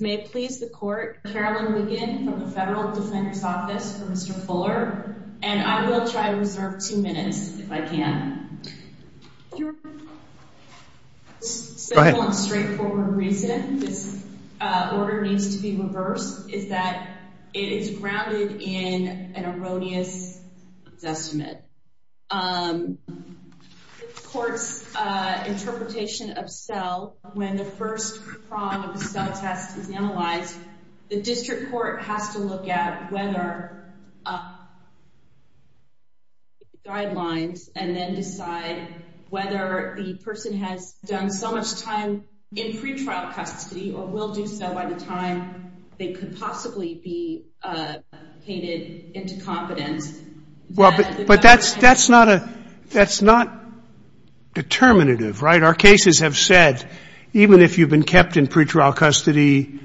May it please the court, Carolyn Wiggin from the Federal Defender's Office for Mr. Fuller and I will try to reserve two minutes if I can. The simple and straightforward reason this order needs to be reversed is that it is grounded in an erroneous estimate. The court's interpretation of cell, when the first prong of the cell test is analyzed, the district court has to look at whether the person has done so much time in pretrial custody or will do so by the time they could possibly be painted into confidence. Scalia. You're right. But that's not a – that's not a determinative, right? Our cases have said even if you've been kept in pretrial custody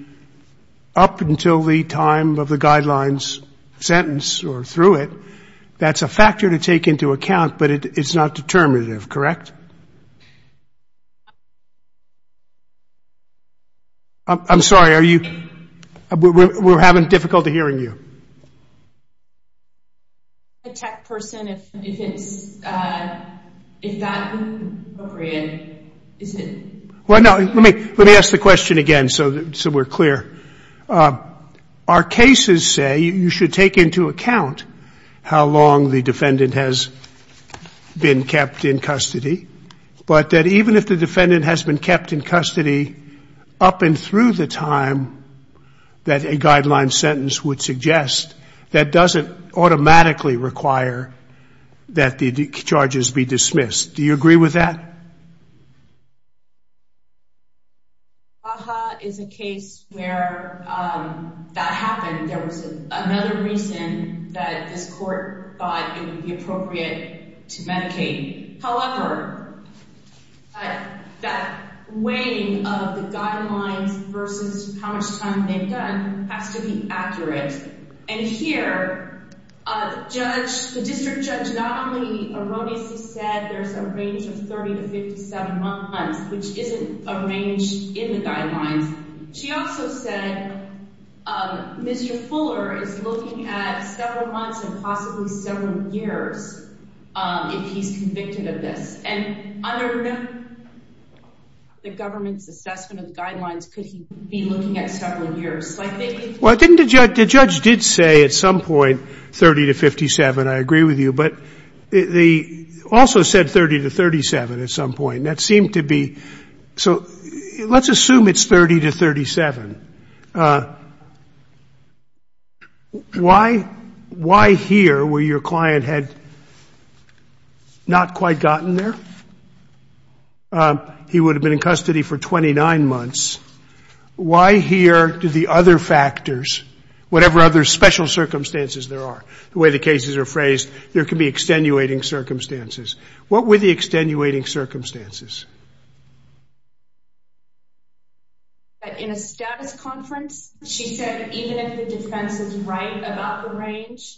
up until the time of a Guidelines sentence or through it, that's a factor to take into account, but it's not determinative, correct? I'm sorry, are you – we're having difficulty hearing you. Okay. A tech person, if it's – if that's appropriate, is it – Well, no, let me ask the question again so we're clear. Our cases say you should take into account how long the defendant has been kept in custody, but that even if the defendant has been kept in custody up and through the time that a Guidelines sentence would suggest, that doesn't automatically require that the charges be dismissed. Do you agree with that? Baja is a case where that happened. There was another reason that this court thought it would be appropriate to medicate. However, that weighing of the Guidelines versus how much time they've done has to be accurate. And here, a judge – the district judge not only erroneously said there's a range of 30 to 57 months, which isn't a range in the Guidelines. She also said Mr. Fuller is looking at several months and possibly several years if he's convicted of this. And under the government's assessment of Guidelines, could he be looking at several years? Well, didn't the judge – the judge did say at some point 30 to 57. I agree with you. But they also said 30 to 37 at some point. And that seemed to be – so let's assume it's 30 to 37. Why here were your client had not quite gotten there? He would have been in custody for 29 months. Why here do the other factors, whatever other special circumstances there are, the way the cases are phrased, there can be extenuating circumstances. What were the extenuating circumstances? In a status conference, she said even if the defense is right about the range,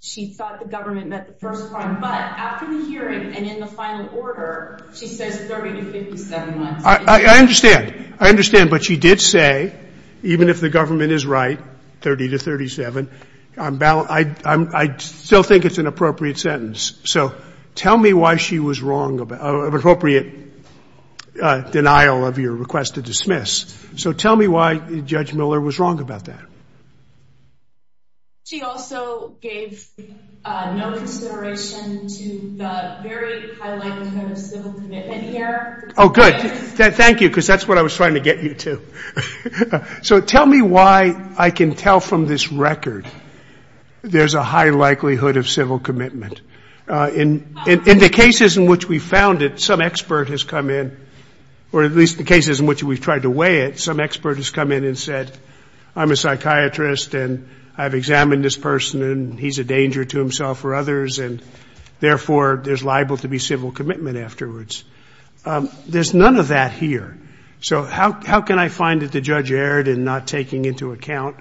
she thought the government met the first point. But after the hearing and in the final order, she says 30 to 57 months. I understand. I understand. But she did say even if the government is right, 30 to 37, I'm – I still think it's an appropriate sentence. So tell me why she was wrong – of appropriate denial of your request to dismiss. So tell me why Judge Miller was wrong about that. She also gave no consideration to the very high likelihood of civil commitment here. Oh, good. Thank you, because that's what I was trying to get you to. So tell me why I can tell from this record there's a high likelihood of civil commitment. In the cases in which we found it, some expert has come in – or at least the cases in which we've tried to weigh it, some expert has come in and said, I'm a psychiatrist and I've examined this person and he's a danger to himself or others, and therefore there's liable to be civil commitment afterwards. There's none of that here. So how can I find that the judge erred in not taking into account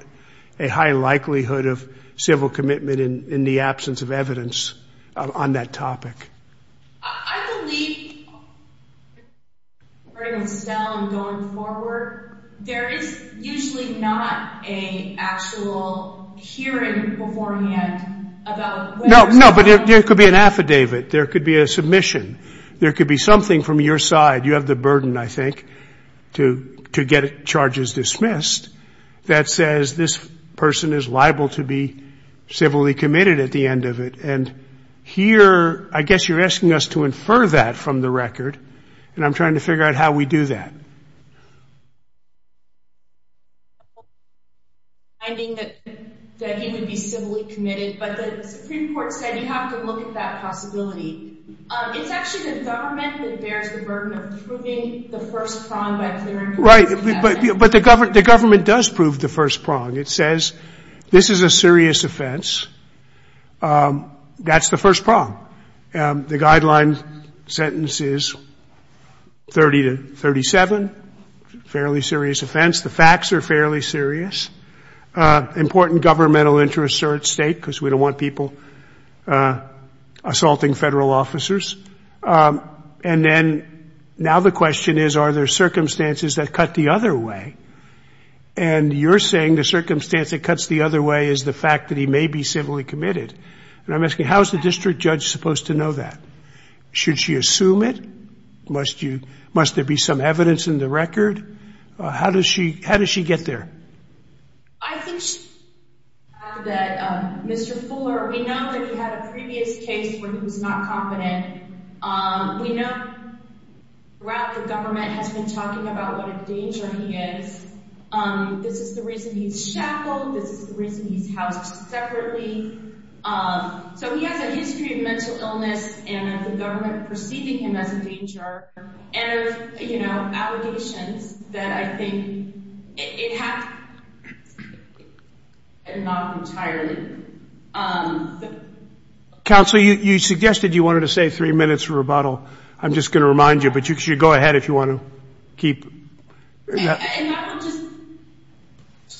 a high likelihood of civil commitment in the absence of evidence on that topic? I believe, starting with Stella and going forward, there is usually not an actual hearing beforehand about whether – No, no, but there could be an affidavit. There could be a submission. There could be something from your side – you have the burden, I think, to get charges dismissed – that says this person is liable to be civilly committed at the end of it. And here, I guess you're asking us to infer that from the record, and I'm trying to figure out how we do that. Finding that he would be civilly committed, but the Supreme Court said you have to look at that possibility. It's actually the government that bears the burden of proving the first prong by clearing – Right, but the government does prove the first prong. It says this is a serious offense. That's the first prong. The guideline sentence is 30 to 37, fairly serious offense. The facts are fairly serious. Important governmental interests are at stake because we don't want people assaulting federal officers. And then now the question is, are there circumstances that cut the other way? And you're saying the circumstance that cuts the other way is the fact that he may be civilly committed. And I'm asking, how is the district judge supposed to know that? Should she assume it? Must there be some evidence in the record? How does she get there? I think she should have that. Mr. Fuller, we know that he had a previous case where he was not confident. We know throughout the government has been talking about what a danger he is. This is the reason he's shackled. This is the reason he's housed separately. So he has a history of mental illness, and the government perceiving him as a danger, and, you know, allegations that I think it happened not entirely. Counsel, you suggested you wanted to say three minutes rebuttal. I'm just going to remind you, but you should go ahead if you want to keep. And I will just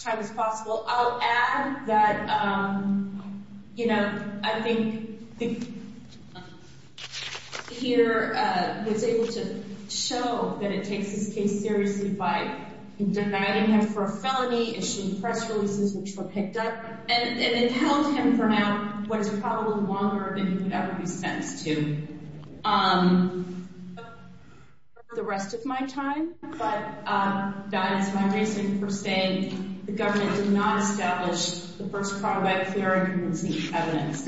try as much time as possible. I'll add that, you know, I think Peter was able to show that it takes this case seriously by denying him for a felony, issuing press releases which were picked up, and it held him for now what is probably longer than he could ever be sentenced to. I don't have the rest of my time, but that is my reason for saying the government did not establish the first part of that clear evidence.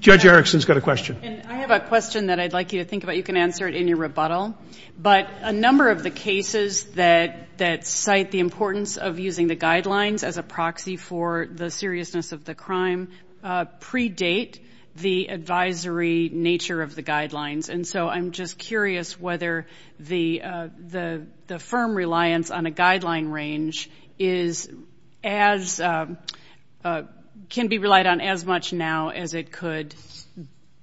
Judge Erickson's got a question. I have a question that I'd like you to think about. You can answer it in your rebuttal. But a number of the cases that cite the importance of using the guidelines as a proxy for the seriousness of the crime predate the advisory nature of the guidelines. And so I'm just curious whether the firm reliance on a guideline range can be relied on as much now as it could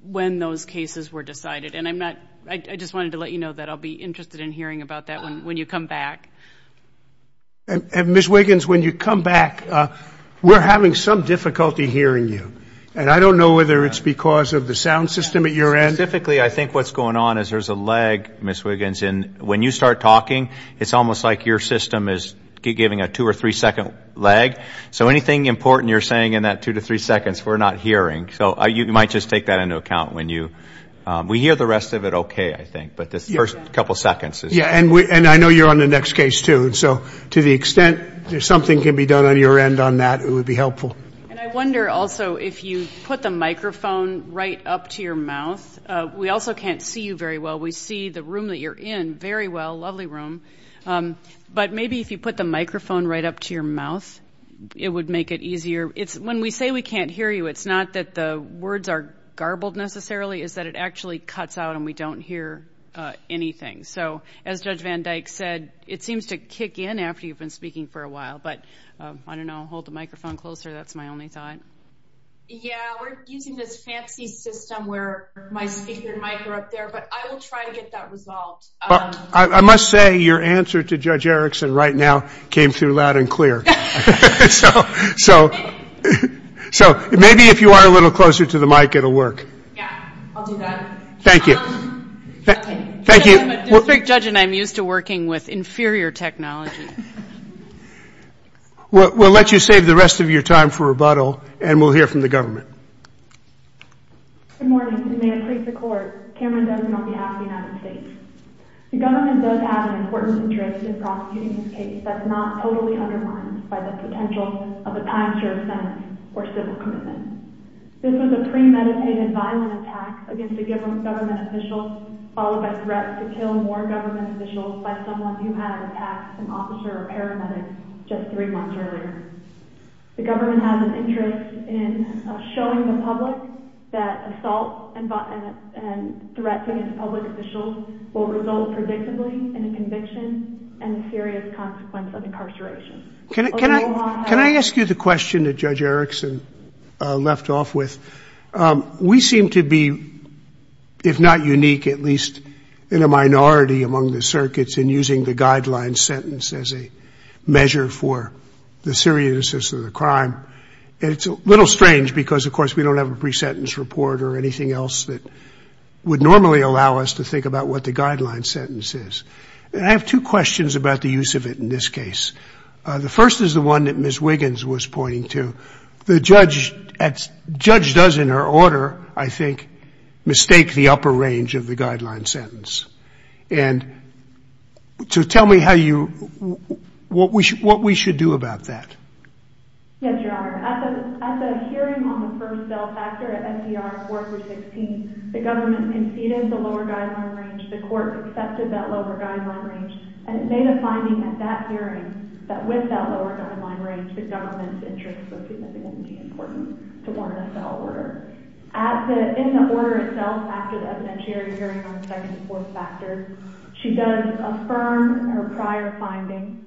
when those cases were decided. And I just wanted to let you know that I'll be interested in hearing about that when you come back. And, Ms. Wiggins, when you come back, we're having some difficulty hearing you. And I don't know whether it's because of the sound system at your end. Specifically, I think what's going on is there's a lag, Ms. Wiggins, and when you start talking, it's almost like your system is giving a two- or three-second lag. So anything important you're saying in that two to three seconds, we're not hearing. So you might just take that into account when you we hear the rest of it okay, I think, but this first couple seconds. Yeah, and I know you're on the next case too. So to the extent that something can be done on your end on that, it would be helpful. And I wonder also if you put the microphone right up to your mouth. We also can't see you very well. We see the room that you're in very well, lovely room. But maybe if you put the microphone right up to your mouth, it would make it easier. When we say we can't hear you, it's not that the words are garbled necessarily. It's that it actually cuts out and we don't hear anything. So as Judge Van Dyke said, it seems to kick in after you've been speaking for a while. But I don't know, hold the microphone closer, that's my only thought. Yeah, we're using this fancy system where my speaker and mic are up there, but I will try to get that resolved. I must say your answer to Judge Erickson right now came through loud and clear. So maybe if you are a little closer to the mic, it will work. Yeah, I'll do that. Thank you. Thank you. I'm a district judge, and I'm used to working with inferior technology. We'll let you save the rest of your time for rebuttal, and we'll hear from the government. Good morning, and may it please the Court, Cameron Dosen on behalf of the United States. The government does have an important interest in prosecuting this case that's not totally undermined by the potential of a time-serve sentence or civil commitment. This was a premeditated violent attack against a government official followed by threats to kill more government officials by someone who had attacked an officer or paramedic just three months earlier. The government has an interest in showing the public that assault and threats against public officials will result predictably in a conviction and a serious consequence of incarceration. Can I ask you the question that Judge Erickson left off with? We seem to be, if not unique, at least in a minority among the circuits in using the guideline sentence as a measure for the seriousness of the crime. And it's a little strange because, of course, we don't have a pre-sentence report or anything else that would normally allow us to think about what the guideline sentence is. And I have two questions about the use of it in this case. The first is the one that Ms. Wiggins was pointing to. The judge does, in her order, I think, mistake the upper range of the guideline sentence. And so tell me how you – what we should do about that. Yes, Your Honor. At the hearing on the first bail factor at FDR in 416, the government conceded the lower guideline range. The court accepted that lower guideline range. And it made a finding at that hearing that with that lower guideline range, the government's interest was significantly important to warrant a bail order. In the order itself, after the evidentiary hearing on the second and fourth factors, she does affirm her prior findings.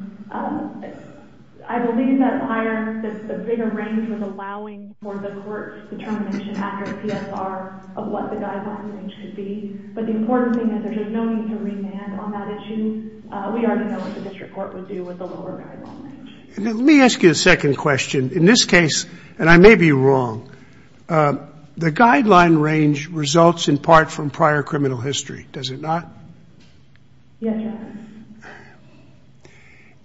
I believe that prior that the bigger range was allowing for the court determination after PSR of what the guideline range should be. But the important thing is there's just no need to remand on that issue. We already know what the district court would do with the lower guideline range. Let me ask you a second question. In this case, and I may be wrong, the guideline range results in part from prior criminal history. Does it not? Yes, Your Honor.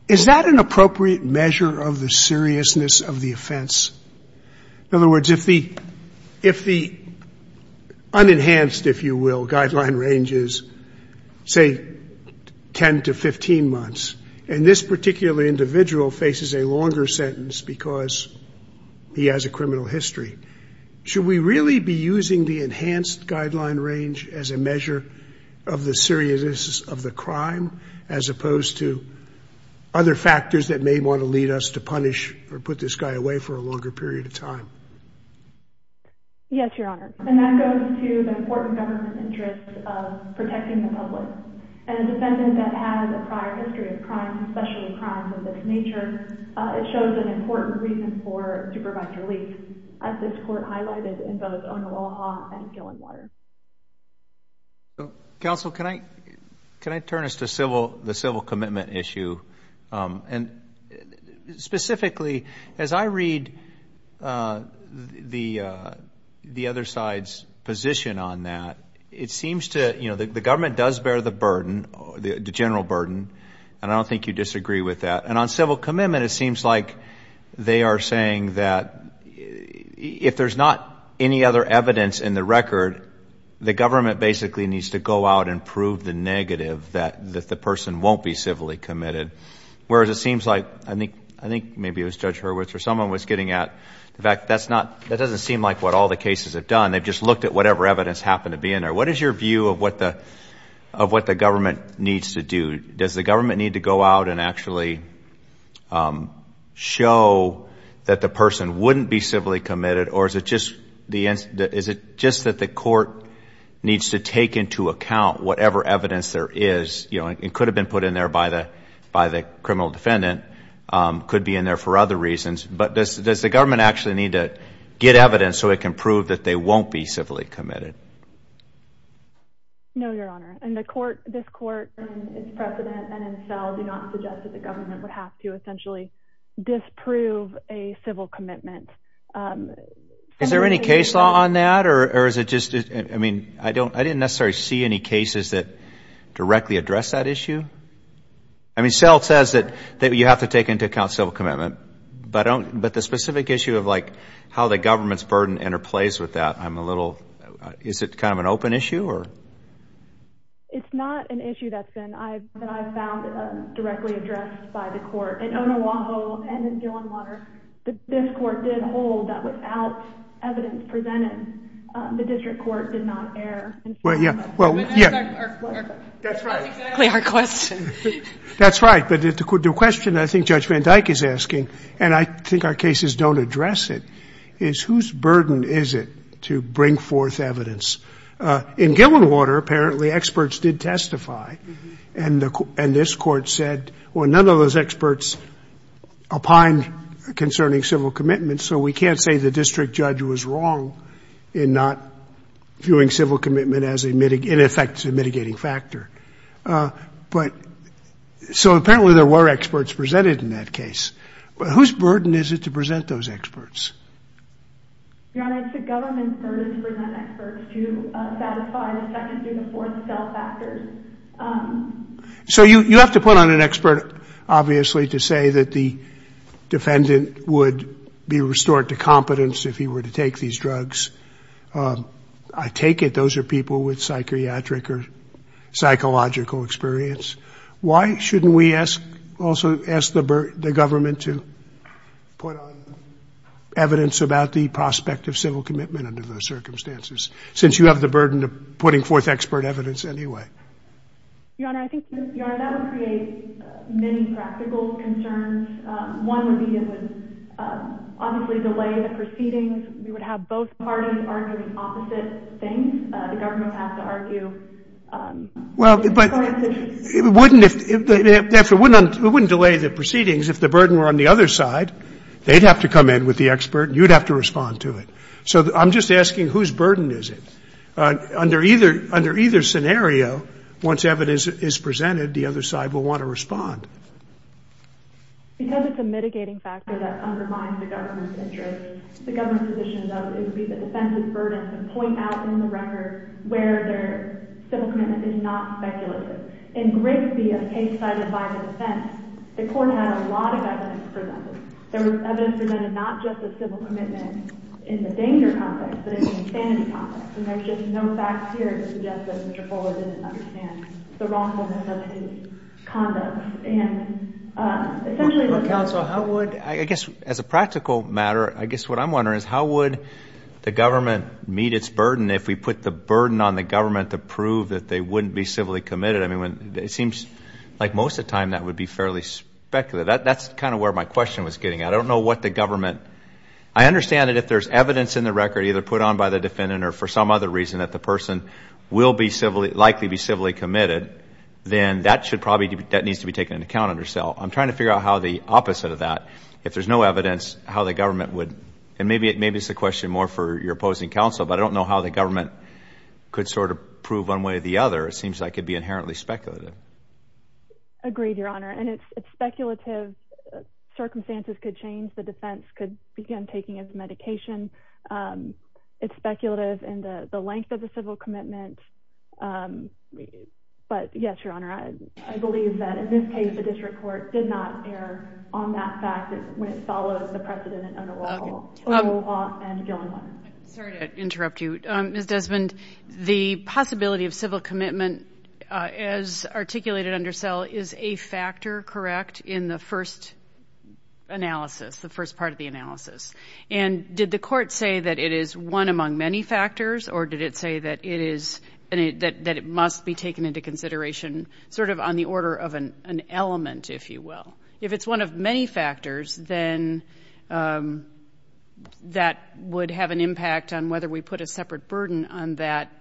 Is that an appropriate measure of the seriousness of the offense? In other words, if the unenhanced, if you will, guideline range is, say, 10 to 15 months, and this particular individual faces a longer sentence because he has a criminal history, should we really be using the enhanced guideline range as a measure of the seriousness of the crime as opposed to other factors that may want to lead us to punish or put this guy away for a longer period of time? Yes, Your Honor. And that goes to the important government interest of protecting the public. As a defendant that has a prior history of crime, especially crimes of this nature, it shows an important reason for supervised relief, as this court highlighted in both Onoaha and Gillingwater. Counsel, can I turn us to the civil commitment issue? And specifically, as I read the other side's position on that, it seems to, you know, the government does bear the burden, the general burden, and I don't think you disagree with that. And on civil commitment, it seems like they are saying that if there's not any other evidence in the record, the government basically needs to go out and prove the negative, that the person won't be civilly committed. Whereas it seems like, I think maybe it was Judge Hurwitz or someone was getting at, in fact, that doesn't seem like what all the cases have done. They've just looked at whatever evidence happened to be in there. What is your view of what the government needs to do? Does the government need to go out and actually show that the person wouldn't be civilly committed, or is it just that the court needs to take into account whatever evidence there is? You know, it could have been put in there by the criminal defendant, could be in there for other reasons. But does the government actually need to get evidence so it can prove that they won't be civilly committed? No, Your Honor. This Court in its precedent and in SEL do not suggest that the government would have to essentially disprove a civil commitment. Is there any case law on that, or is it just, I mean, I didn't necessarily see any cases that directly address that issue. I mean, SEL says that you have to take into account civil commitment. But the specific issue of, like, how the government's burden interplays with that, I'm a little, is it kind of an open issue, or? It's not an issue that's been, I've found, directly addressed by the court. In Onawaho and in Gillenwater, this court did hold that without evidence presented, the district court did not err. Well, yeah. That's exactly our question. That's right. But the question I think Judge Van Dyke is asking, and I think our cases don't address it, is whose burden is it to bring forth evidence? In Gillenwater, apparently, experts did testify. And this court said, well, none of those experts opined concerning civil commitment, so we can't say the district judge was wrong in not viewing civil commitment as, in effect, a mitigating factor. But so apparently there were experts presented in that case. But whose burden is it to present those experts? Your Honor, it's the government's burden to present experts to satisfy the second, third, and fourth cell factors. So you have to put on an expert, obviously, to say that the defendant would be restored to competence if he were to take these drugs. I take it those are people with psychiatric or psychological experience. Why shouldn't we also ask the government to put on evidence about the prospect of civil commitment under those circumstances, since you have the burden of putting forth expert evidence anyway? Your Honor, that would create many practical concerns. One would be it would obviously delay the proceedings. We would have both parties arguing opposite things. The government would have to argue. But it wouldn't delay the proceedings if the burden were on the other side. They'd have to come in with the expert, and you'd have to respond to it. So I'm just asking, whose burden is it? Under either scenario, once evidence is presented, the other side will want to respond. Because it's a mitigating factor that undermines the government's interest, it would be the defense's burden to point out in the record where their civil commitment is not speculative. In Grigsby, a case cited by the defense, the court had a lot of evidence presented. There was evidence presented not just of civil commitment in the danger context, but in the insanity context. And there's just no facts here to suggest that Mr. Fuller didn't understand the wrongfulness of his conduct. Counsel, how would, I guess as a practical matter, I guess what I'm wondering is how would the government meet its burden if we put the burden on the government to prove that they wouldn't be civilly committed? It seems like most of the time that would be fairly speculative. That's kind of where my question was getting at. I don't know what the government, I understand that if there's evidence in the record either put on by the defendant or for some other reason that the person will likely be civilly committed, then that should probably, that needs to be taken into account under cell. I'm trying to figure out how the opposite of that, if there's no evidence, how the government would, and maybe it's a question more for your opposing counsel, but I don't know how the government could sort of prove one way or the other. It seems like it would be inherently speculative. Agreed, Your Honor, and it's speculative. Circumstances could change. The defense could begin taking his medication. It's speculative in the length of the civil commitment. But, yes, Your Honor, I believe that in this case the district court did not err on that fact when it follows the precedent under O'Rourke and Gilliland. Sorry to interrupt you. Ms. Desmond, the possibility of civil commitment as articulated under cell is a factor, correct, in the first analysis, the first part of the analysis, and did the court say that it is one among many factors or did it say that it must be taken into consideration sort of on the order of an element, if you will? If it's one of many factors, then that would have an impact on whether we put a separate burden on that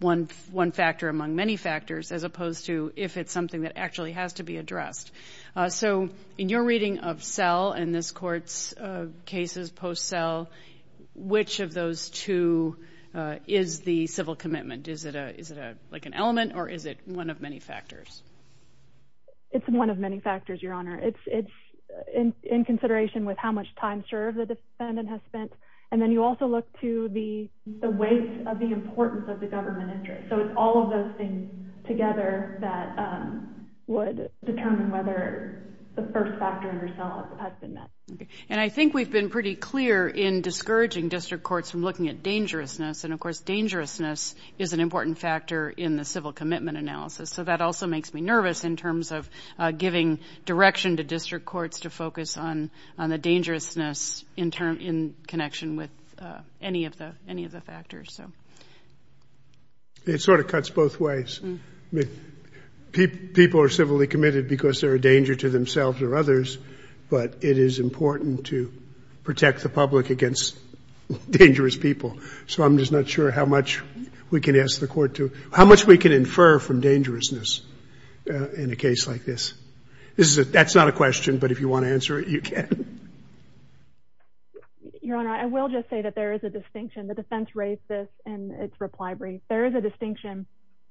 one factor among many factors as opposed to if it's something that actually has to be addressed. So in your reading of cell and this court's cases post-cell, which of those two is the civil commitment? Is it like an element or is it one of many factors? It's one of many factors, Your Honor. It's in consideration with how much time served the defendant has spent, and then you also look to the weight of the importance of the government interest. So it's all of those things together that would determine whether the first factor under cell has been met. And I think we've been pretty clear in discouraging district courts from looking at dangerousness, and of course dangerousness is an important factor in the civil commitment analysis, so that also makes me nervous in terms of giving direction to district courts to focus on the dangerousness in connection with any of the factors. It sort of cuts both ways. People are civilly committed because they're a danger to themselves or others, but it is important to protect the public against dangerous people. So I'm just not sure how much we can infer from dangerousness in a case like this. That's not a question, but if you want to answer it, you can. Your Honor, I will just say that there is a distinction. The defense raised this in its reply brief. There is a distinction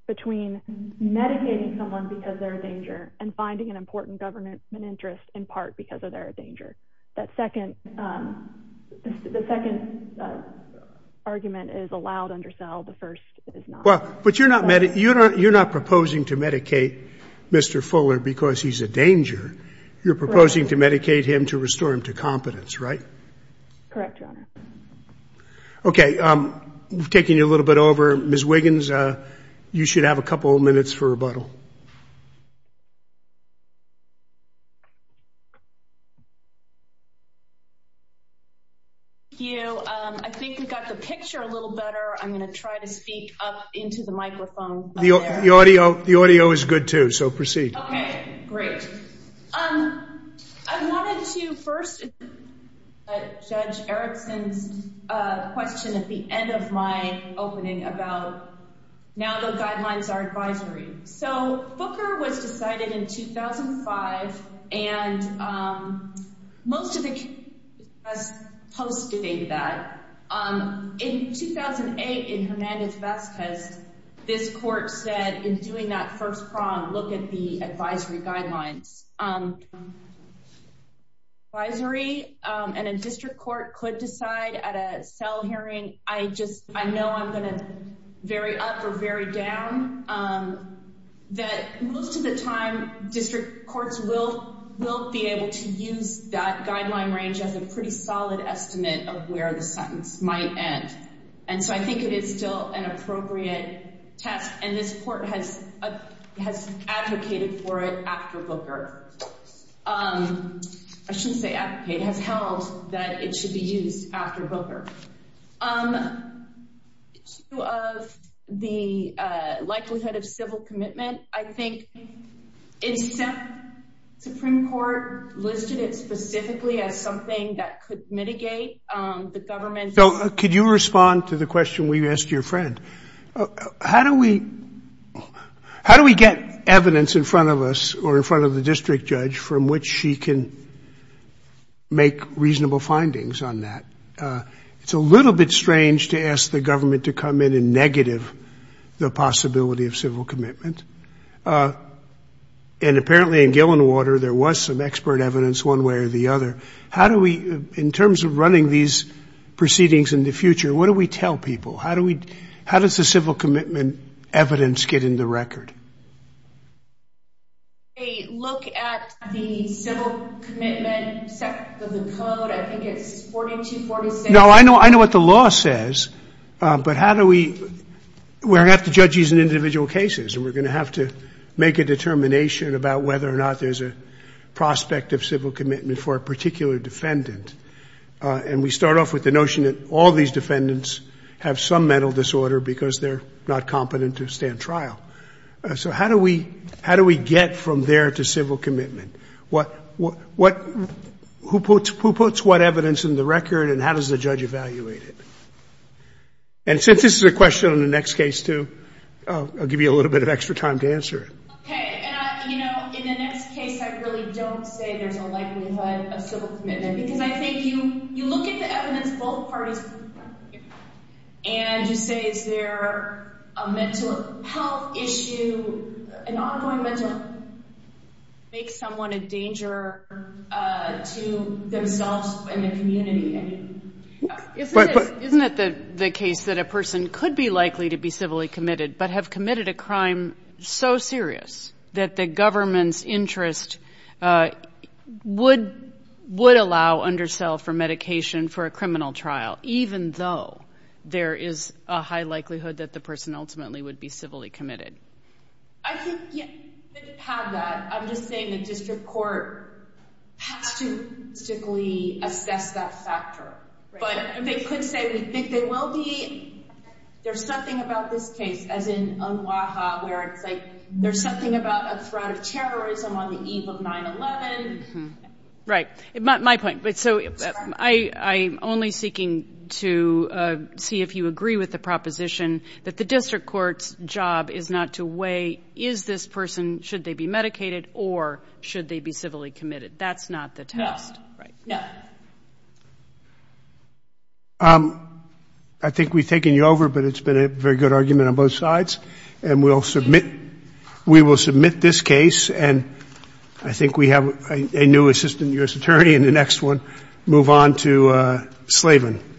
between medicating someone because they're a danger and finding an important government interest in part because they're a danger. That second argument is allowed under cell. The first is not. But you're not proposing to medicate Mr. Fuller because he's a danger. You're proposing to medicate him to restore him to competence, right? Correct, Your Honor. Okay, we've taken you a little bit over. Ms. Wiggins, you should have a couple of minutes for rebuttal. Thank you. I think we got the picture a little better. I'm going to try to speak up into the microphone. The audio is good too, so proceed. Okay, great. I wanted to first judge Erickson's question at the end of my opening about now the guidelines are advisory. So, Booker was decided in 2005, and most of the case has posted into that. In 2008, in Hernandez-Vest, this court said in doing that first prong, look at the advisory guidelines. Advisory in a district court could decide at a cell hearing, I know I'm going to vary up or vary down, that most of the time district courts will be able to use that guideline range as a pretty solid estimate of where the sentence might end. And so I think it is still an appropriate test. And this court has advocated for it after Booker. I shouldn't say advocated, it has held that it should be used after Booker. Due to the likelihood of civil commitment, I think the Supreme Court listed it specifically as something that could mitigate the government's. Could you respond to the question we asked your friend? How do we get evidence in front of us or in front of the district judge from which she can make reasonable findings on that? It's a little bit strange to ask the government to come in and negative the possibility of civil commitment. And apparently in Gillinwater, there was some expert evidence one way or the other. How do we, in terms of running these proceedings in the future, what do we tell people? How does the civil commitment evidence get in the record? A look at the civil commitment of the code, I think it's 4246. No, I know what the law says, but how do we, we're going to have to judge these in individual cases and we're going to have to make a determination about whether or not there's a prospect of civil commitment for a particular defendant. And we start off with the notion that all these defendants have some mental disorder because they're not competent to stand trial. So how do we get from there to civil commitment? Who puts what evidence in the record and how does the judge evaluate it? And since this is a question on the next case too, I'll give you a little bit of extra time to answer it. Okay. In the next case, I really don't say there's a likelihood of civil commitment because I think you look at the evidence both parties put together and you say is there a mental health issue, an ongoing mental, makes someone a danger to themselves and the community. Isn't it the case that a person could be likely to be civilly committed but have committed a crime so serious that the government's interest would allow undersell for medication for a criminal trial, even though there is a high likelihood that the person ultimately would be civilly committed? I think you could have that. I'm just saying the district court has to statistically assess that factor. But they could say they think they will be. There's something about this case, as in Onwaha, where it's like there's something about a threat of terrorism on the eve of 9-11. Right. My point, so I'm only seeking to see if you agree with the proposition that the district court's job is not to weigh is this person, should they be medicated or should they be civilly committed. That's not the test. No. I think we've taken you over, but it's been a very good argument on both sides, and we will submit this case, and I think we have a new assistant U.S. attorney in the next one. Move on to Slavin.